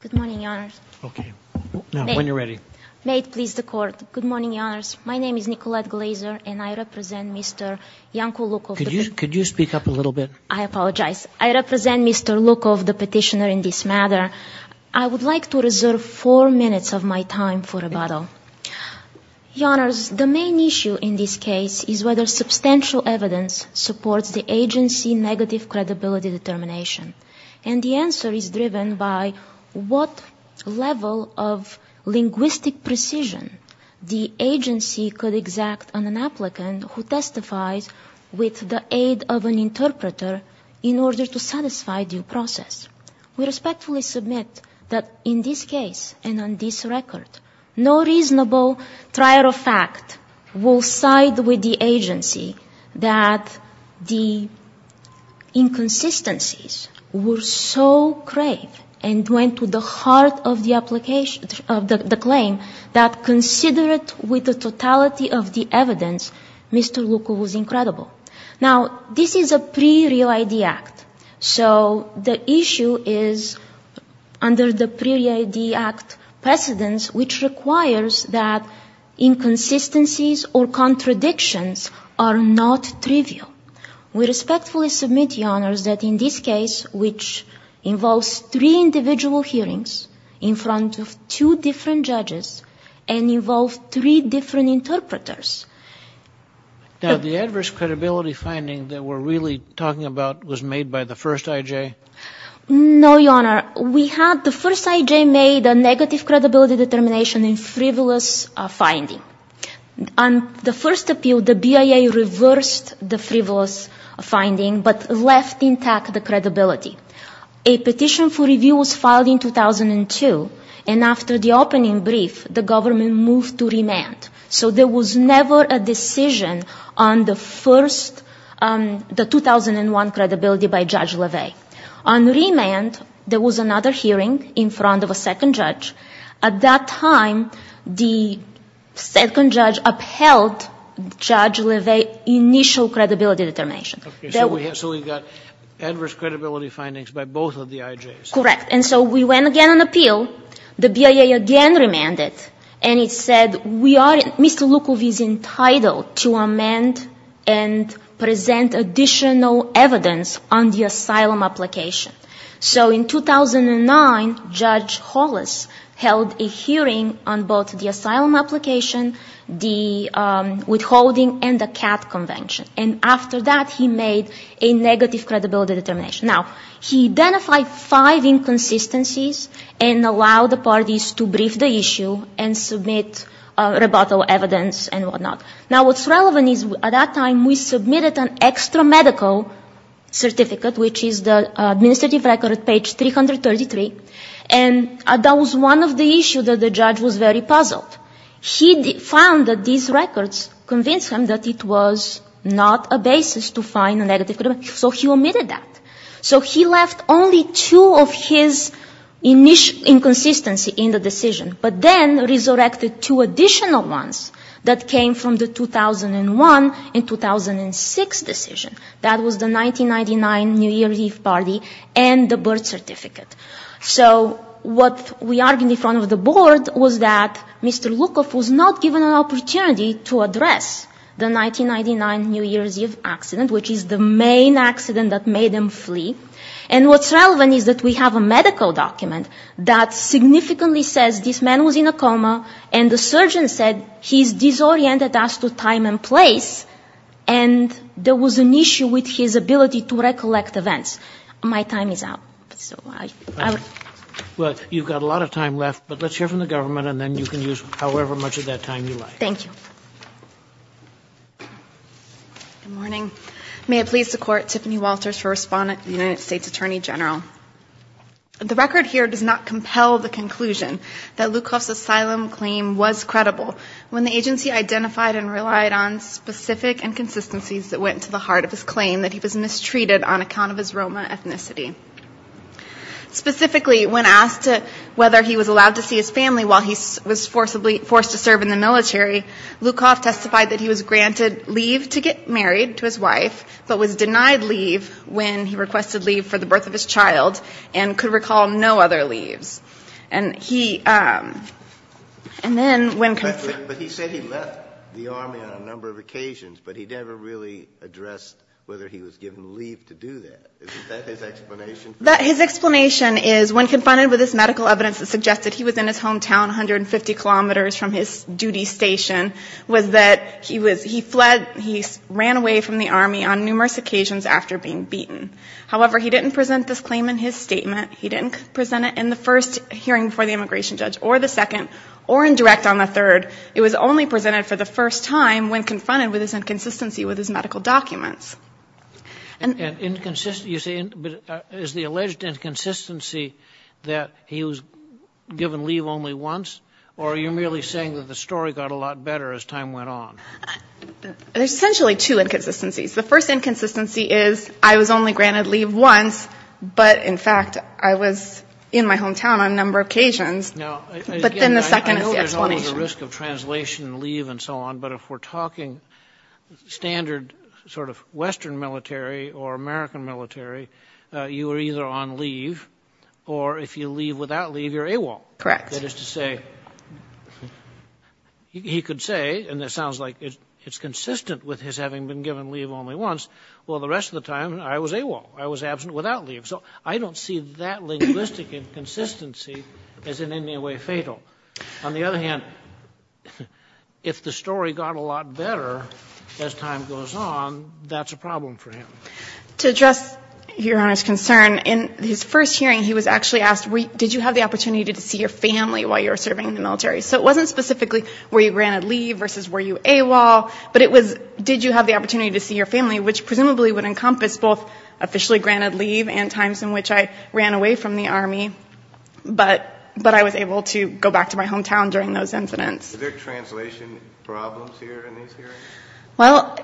Good morning, Your Honors. May it please the Court. Good morning, Your Honors. My name is Nicolette Glazer, and I represent Mr. Yanko Lukov. Could you speak up a little bit? I apologize. I represent Mr. Lukov, the petitioner in this matter. I would like to reserve four minutes of my time for rebuttal. Your Honors, the main issue in this case is whether substantial evidence supports the agency negative credibility determination. And the answer is driven by what level of linguistic precision the agency could exact on an applicant who testifies with the aid of an interpreter in order to satisfy due process. We respectfully submit that in this case and on this record, no reasonable trier of fact will side with the agency that the inconsistencies were so grave and went to the heart of the application of the claim that considered with the totality of the evidence, Mr. Lukov was incredible. Now, this is a pre-Real ID Act. So the issue is under the pre-Real ID Act precedence, which requires that inconsistencies or contradictions are not trivial. We respectfully submit, Your Honors, that in this case, which involves three individual hearings in front of two different interpreters. Now, the adverse credibility finding that we're really talking about was made by the first IJ? No, Your Honor. We had the first IJ made a negative credibility determination in frivolous finding. On the first appeal, the BIA reversed the frivolous finding but left intact the credibility. A petition for review was filed in 2002 and after the opening brief, the government moved to remand. So there was never a decision on the first, the 2001 credibility by Judge Leve. On remand, there was another hearing in front of a second judge. At that time, the second judge upheld Judge Leve's initial credibility determination. Okay. So we got adverse credibility findings by both of the IJs? Correct. And so we went again on appeal. The BIA again remanded. And it said we are Mr. Lukov is entitled to amend and present additional evidence on the asylum application. So in 2009, Judge Hollis held a hearing on both the asylum application, the withholding and the CAT convention. And after that, he made a negative credibility determination. Now, he identified five inconsistencies and allowed the parties to brief the issue and submit rebuttal evidence and whatnot. Now, what's relevant is at that time, we submitted an extra medical certificate, which is the administrative record at page 333. And that was one of the issues that the judge was very puzzled. He found that these records convinced him that it was not a basis to find a negative credibility. So he omitted that. So he left only two of his inconsistency in the decision, but then resurrected two additional ones that came from the 2001 and 2006 decision. That was the 1999 New Year's Eve party and the birth certificate. So what we argued in front of the board was that Mr. Lukov was not given an opportunity to address the 1999 New Year's Eve accident, which is the main accident that made him flee. And what's relevant is that we have a medical document that significantly says this man was in a coma, and the surgeon said he's disoriented as to time and place, and there was an issue with his ability to recollect events. My time is up. So I would ‑‑ Kagan. Well, you've got a lot of time left, but let's hear from the government, and then you can use however much of that time you like. Thank you. Good morning. May it please the Court, Tiffany Walters for Respondent, United States Attorney General. The record here does not compel the conclusion that Lukov's asylum claim was credible when the agency identified and relied on specific inconsistencies that went to the heart of his claim that he was mistreated on account of his Roma ethnicity. Specifically when asked whether he was allowed to see his family while he was forced to serve in the military, Lukov testified that he was granted leave to get married to his wife, but was denied leave when he requested leave for the birth of his child and could recall no other leaves. And he ‑‑ and then when ‑‑ But he said he left the Army on a number of occasions, but he never really addressed whether he was given leave to do that. Isn't that his explanation? His explanation is when confronted with this medical evidence that suggested he was in his hometown, 150 kilometers from his duty station, was that he was ‑‑ he fled, he ran away from the Army on numerous occasions after being beaten. However, he didn't present this claim in his statement. He didn't present it in the first hearing before the immigration judge or the second or in direct on the third. It was only presented for the first time when confronted with his inconsistency with his medical documents. And inconsistency, you say ‑‑ but is the alleged inconsistency that he was given leave only once, or are you merely saying that the story got a lot better as time went on? There's essentially two inconsistencies. The first inconsistency is I was only granted leave once, but, in fact, I was in my hometown on a number of occasions, but then the second is the explanation. I know there's always a risk of translation, leave and so on, but if we're talking standard sort of western military or American military, you were either on leave or if you leave without leave, you're AWOL. Correct. That is to say, he could say, and it sounds like it's consistent with his having been given leave only once, well, the rest of the time I was AWOL. I was absent without leave. So I don't see that linguistic inconsistency as in any way fatal. On the other hand, if the story got a lot better as time goes on, that's a problem for him. To address Your Honor's concern, in his first hearing he was actually asked, did you have the opportunity to see your family while you were serving in the military? So it wasn't specifically were you granted leave versus were you AWOL, but it was did you have the opportunity to see your family, which presumably would encompass both officially granted leave and times in which I ran away from the Army, but I was able to go back to my hometown during those incidents. Were there translation problems here in these hearings? Well,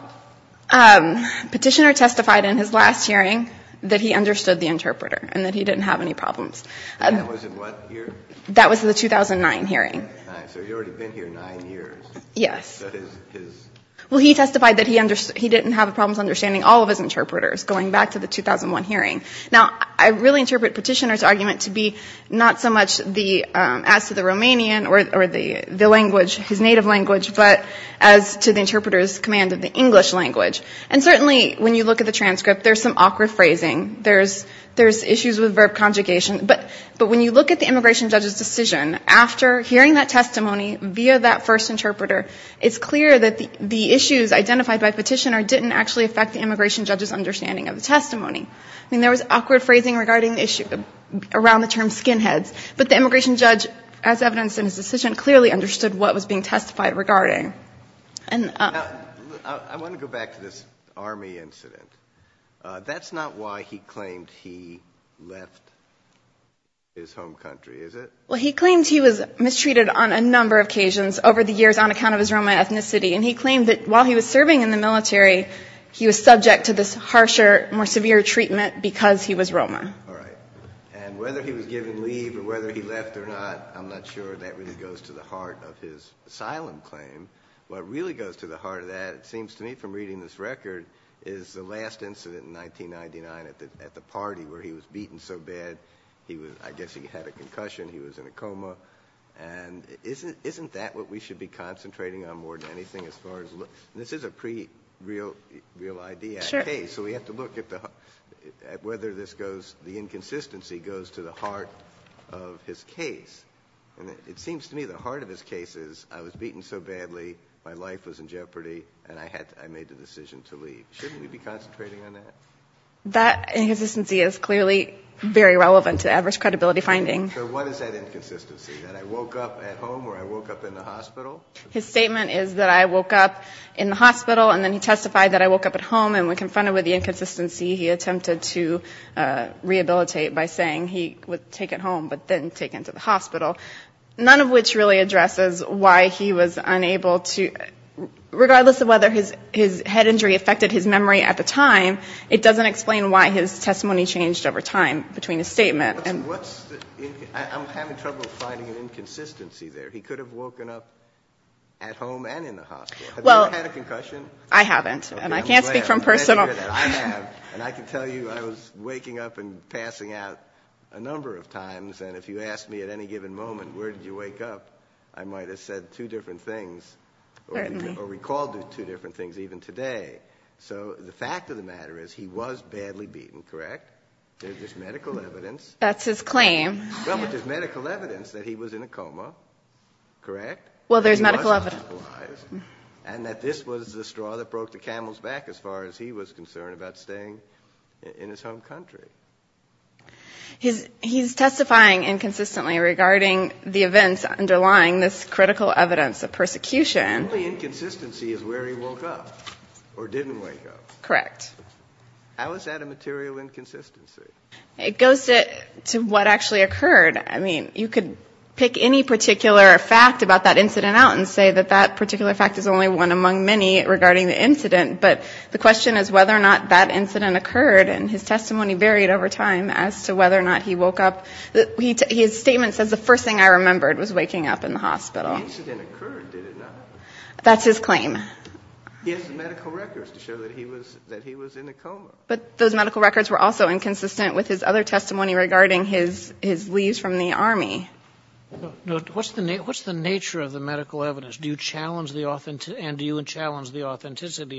Petitioner testified in his last hearing that he understood the interpreter and that he didn't have any problems. That was in what year? That was the 2009 hearing. So he's already been here nine years. Yes. That is his... Well, he testified that he didn't have problems understanding all of his interpreters going back to the 2001 hearing. Now, I really interpret Petitioner's argument to be not so much as to the Romanian or the language, his native language, but as to the interpreter's command of the English language. And certainly when you look at the transcript, there's some awkward conjugation. But when you look at the immigration judge's decision, after hearing that testimony via that first interpreter, it's clear that the issues identified by Petitioner didn't actually affect the immigration judge's understanding of the testimony. I mean, there was awkward phrasing regarding the issue around the term skinheads, but the immigration judge, as evidenced in his decision, clearly understood what was being testified regarding. Now, I want to go back to this army incident. That's not why he claimed he left his home country, is it? Well, he claimed he was mistreated on a number of occasions over the years on account of his Roma ethnicity. And he claimed that while he was serving in the military, he was subject to this harsher, more severe treatment because he was Roma. All right. And whether he was given leave or whether he left or not, I'm not sure. That really goes to the heart of his asylum claim. What really goes to the heart of that, it seems to me from reading this record, is the last incident in 1999 at the party where he was beaten so bad, I guess he had a concussion, he was in a coma. And isn't that what we should be concentrating on more than anything as far as... And this is a pre-real-idea case, so we have to look at whether this goes... the inconsistency goes to the heart of his case. And it seems to me the heart of his case is, I was beaten so badly, my life was in jeopardy, and I made the decision to leave. Shouldn't we be concentrating on that? That inconsistency is clearly very relevant to adverse credibility finding. So what is that inconsistency, that I woke up at home or I woke up in the hospital? His statement is that I woke up in the hospital and then he testified that I woke up at home and when confronted with the inconsistency, he attempted to rehabilitate by saying he would take it home but then take it to the hospital, none of which really addresses why he was unable to... Regardless of whether his head injury affected his memory at the time, it doesn't explain why his testimony changed over time between his statement. I'm having trouble finding an inconsistency there. He could have woken up at home and in the hospital. Have you ever had a concussion? I haven't, and I can't speak from personal... I have, and I can tell you I was waking up and passing out a number of times, and if you asked me at any given moment, where did you wake up, I might have said two different things or recalled two different things even today. So the fact of the matter is he was badly beaten, correct? There's medical evidence... That's his claim. Well, but there's medical evidence that he was in a coma, correct? Well, there's medical evidence... And that this was the straw that broke the camel's back as far as he was concerned about staying in his home country. He's testifying inconsistently regarding the events underlying this critical evidence of persecution. The only inconsistency is where he woke up or didn't wake up. Correct. How is that a material inconsistency? It goes to what actually occurred. I mean, you could pick any particular fact about that particular fact is only one among many regarding the incident, but the question is whether or not that incident occurred, and his testimony varied over time as to whether or not he woke up. His statement says the first thing I remembered was waking up in the hospital. The incident occurred, did it not? That's his claim. He has the medical records to show that he was in a coma. But those medical records were also inconsistent with his other testimony regarding his leaves from the Army. What's the nature of the medical evidence? And do you challenge the authenticity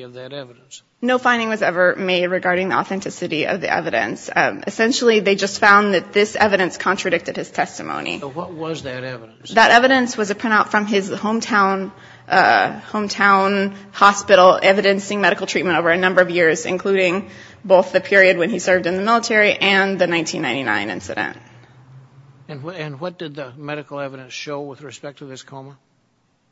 of that evidence? No finding was ever made regarding the authenticity of the evidence. Essentially, they just found that this evidence contradicted his testimony. What was that evidence? That evidence was a printout from his hometown hospital evidencing medical treatment over a number of years, including both the period when he served in the military and the 1999 incident. And what did the medical evidence show with respect to this coma?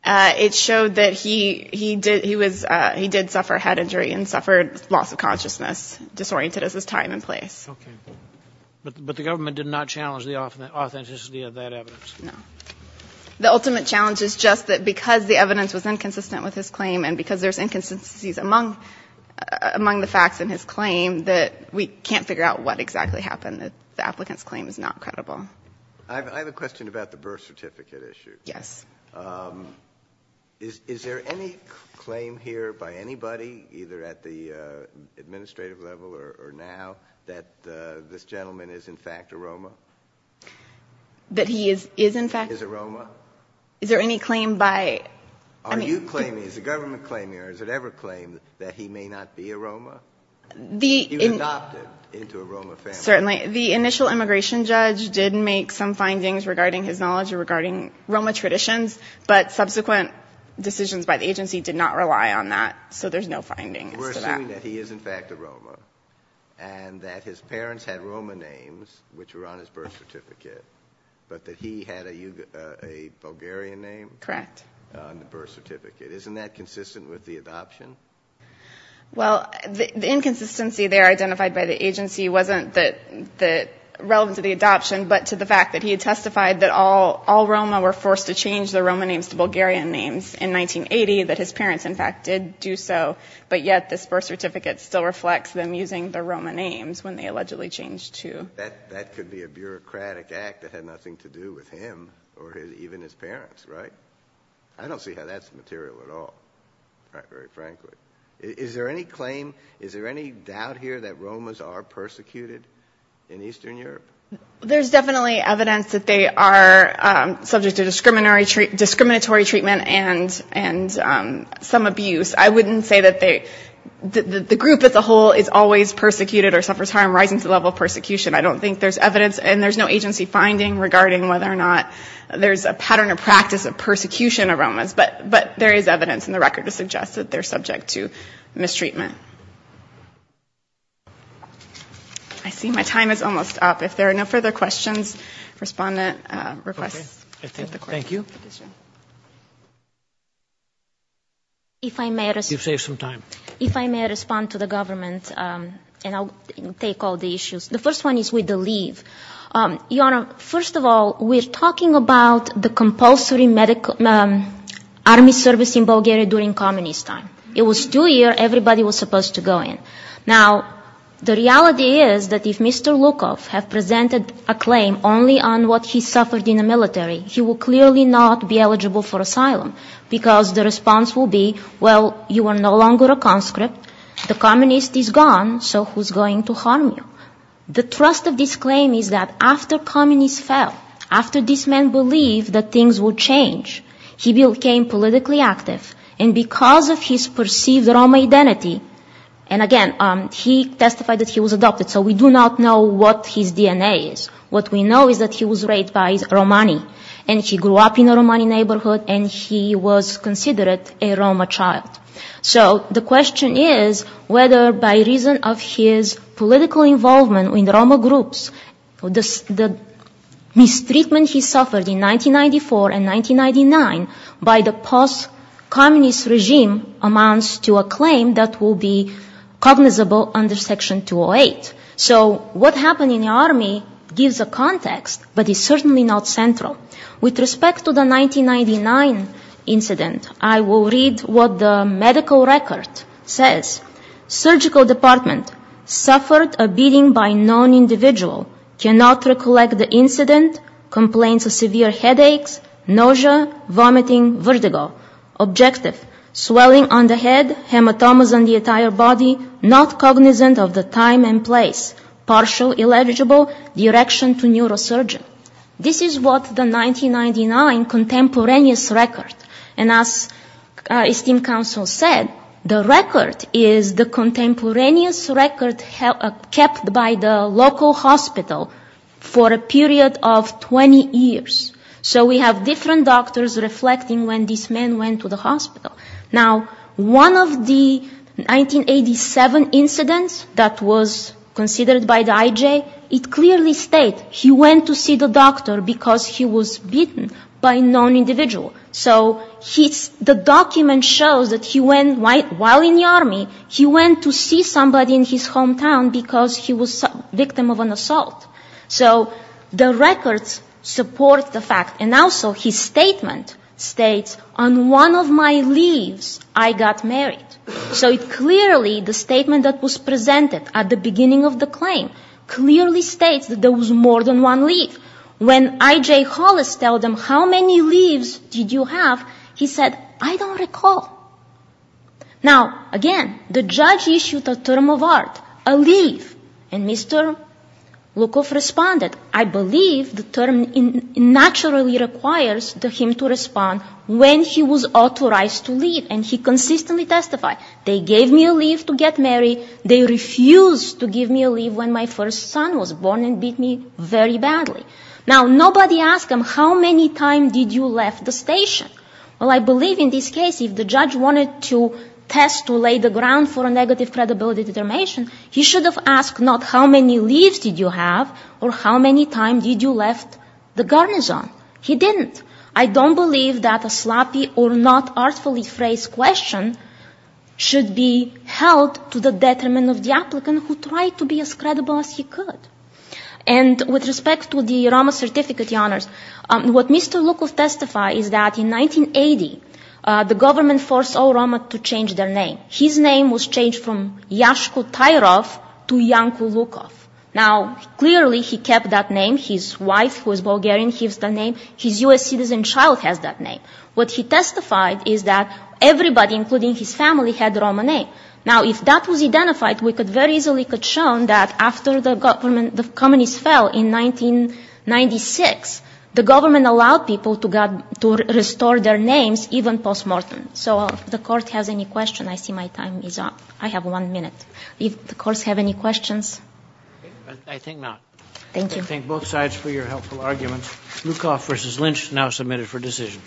It showed that he did suffer head injury and suffered loss of consciousness, disoriented as his time and place. Okay. But the government did not challenge the authenticity of that evidence? No. The ultimate challenge is just that because the evidence was inconsistent with his claim and because there's inconsistencies among the facts in his claim, that we can't figure out what exactly happened. The applicant's claim is not credible. I have a question about the birth certificate issue. Yes. Is there any claim here by anybody, either at the administrative level or now, that this gentleman is, in fact, a Roma? That he is, in fact? Is a Roma? Is there any claim by? Are you claiming? Is the government claiming? Or has it ever claimed that he may not be a Roma? He was adopted into a Roma family. Certainly. The initial immigration judge did make some findings regarding his knowledge regarding Roma traditions, but subsequent decisions by the agency did not rely on that, so there's no findings to that. We're assuming that he is, in fact, a Roma and that his parents had Roma names which were on his birth certificate, but that he had a Bulgarian name? Correct. On the birth certificate. Isn't that consistent with the adoption? Well, the inconsistency there identified by the agency wasn't relevant to the adoption but to the fact that he had testified that all Roma were forced to change their Roma names to Bulgarian names in 1980, that his parents, in fact, did do so, but yet this birth certificate still reflects them using their Roma names when they allegedly changed to. That could be a bureaucratic act that had nothing to do with him or even his parents, right? I don't see how that's material at all. Very frankly. Is there any claim, is there any doubt here that Romas are persecuted in Eastern Europe? There's definitely evidence that they are subject to discriminatory treatment and some abuse. I wouldn't say that the group as a whole is always persecuted or suffers harm rising to the level of persecution. I don't think there's evidence and there's no agency finding regarding whether or not there's a pattern of practice of persecution of Romas, but there is evidence and the record suggests that they're subject to mistreatment. I see my time is almost up. If there are no further questions, respondent requests. Thank you. You've saved some time. If I may respond to the government and I'll take all the issues. The first one is with the leave. Your Honor, first of all, we're talking about the compulsory medical army service in Bulgaria during communist time. It was two years everybody was supposed to go in. Now, the reality is that if Mr. Lukov have presented a claim only on what he suffered in the military, he will clearly not be eligible for asylum because the response will be, well, you are no longer a conscript, the communist is gone, so who's going to harm you? The trust of this claim is that after communists fell, after this man believed that things would change, he became politically active and because of his perceived Roma identity, and again, he testified that he was adopted, so we do not know what his DNA is. What we know is that he was raped by Romani and he grew up in a Romani neighborhood and he was considered a Roma child. So the question is whether by reason of his political involvement in Roma groups, the mistreatment he suffered in 1994 and 1999 by the post-communist regime amounts to a claim that will be cognizable under Section 208. So what happened in the army gives a context, but it's certainly not central. With respect to the 1999 incident, I will read what the medical record says. Surgical department, suffered a beating by non-individual, cannot recollect the incident, complaints of severe headaches, nausea, vomiting, vertigo. Objective, swelling on the head, hematomas on the entire body, not cognizant of the time and place. Partial eligible, direction to neurosurgeon. This is what the 1999 contemporaneous record. And as esteemed counsel said, the record is the contemporaneous record kept by the local hospital for a period of 20 years. So we have different doctors reflecting when this man went to the hospital. Now, one of the 1987 incidents that was considered by the IJ, it clearly states he went to see the doctor because he was beaten by a non-individual. So the document shows that he went, while in the army, he went to see somebody in his hometown because he was a victim of an assault. So the records support the fact. And also, his statement states, on one of my leaves, I got married. So it clearly, the statement that was presented at the beginning of the claim, clearly states that there was more than one leave. When IJ Hollis tells them, how many leaves did you have? He said, I don't recall. Now, again, the judge issued a term of art, a leave. And Mr. Lukov responded, I believe the term naturally requires him to respond when he was authorized to leave. And he consistently testified, they gave me a leave to get married, they refused to give me a leave when my first son was born and beat me very badly. Now, nobody asked him, how many times did you left the station? Well, I believe in this case, if the judge wanted to test to lay the ground for a negative credibility determination, he should have asked not how many leaves did you have or how many times did you left the garrison. He didn't. I don't believe that a sloppy or not artfully phrased question should be held to the detriment of the applicant who tried to be as credible as he could. And with respect to the Roma certificate, the honors, what Mr. Lukov testified is that in 1980, the government forced all Roma to change their name. His name was changed from Yashko Tayerov to Yanko Lukov. Now, clearly, he kept that name. His wife, who is Bulgarian, keeps that name. His U.S. citizen child has that name. What he testified is that everybody, including his family, had the Roma name. Now, if that was identified, we could very easily have shown that after the Communists fell in 1996, the government allowed people to restore their names, even post-mortem. So if the court has any questions, I see my time is up. I have one minute. Do the courts have any questions? I think not. I thank both sides for your helpful arguments. Lukov v. Lynch now submitted for decision.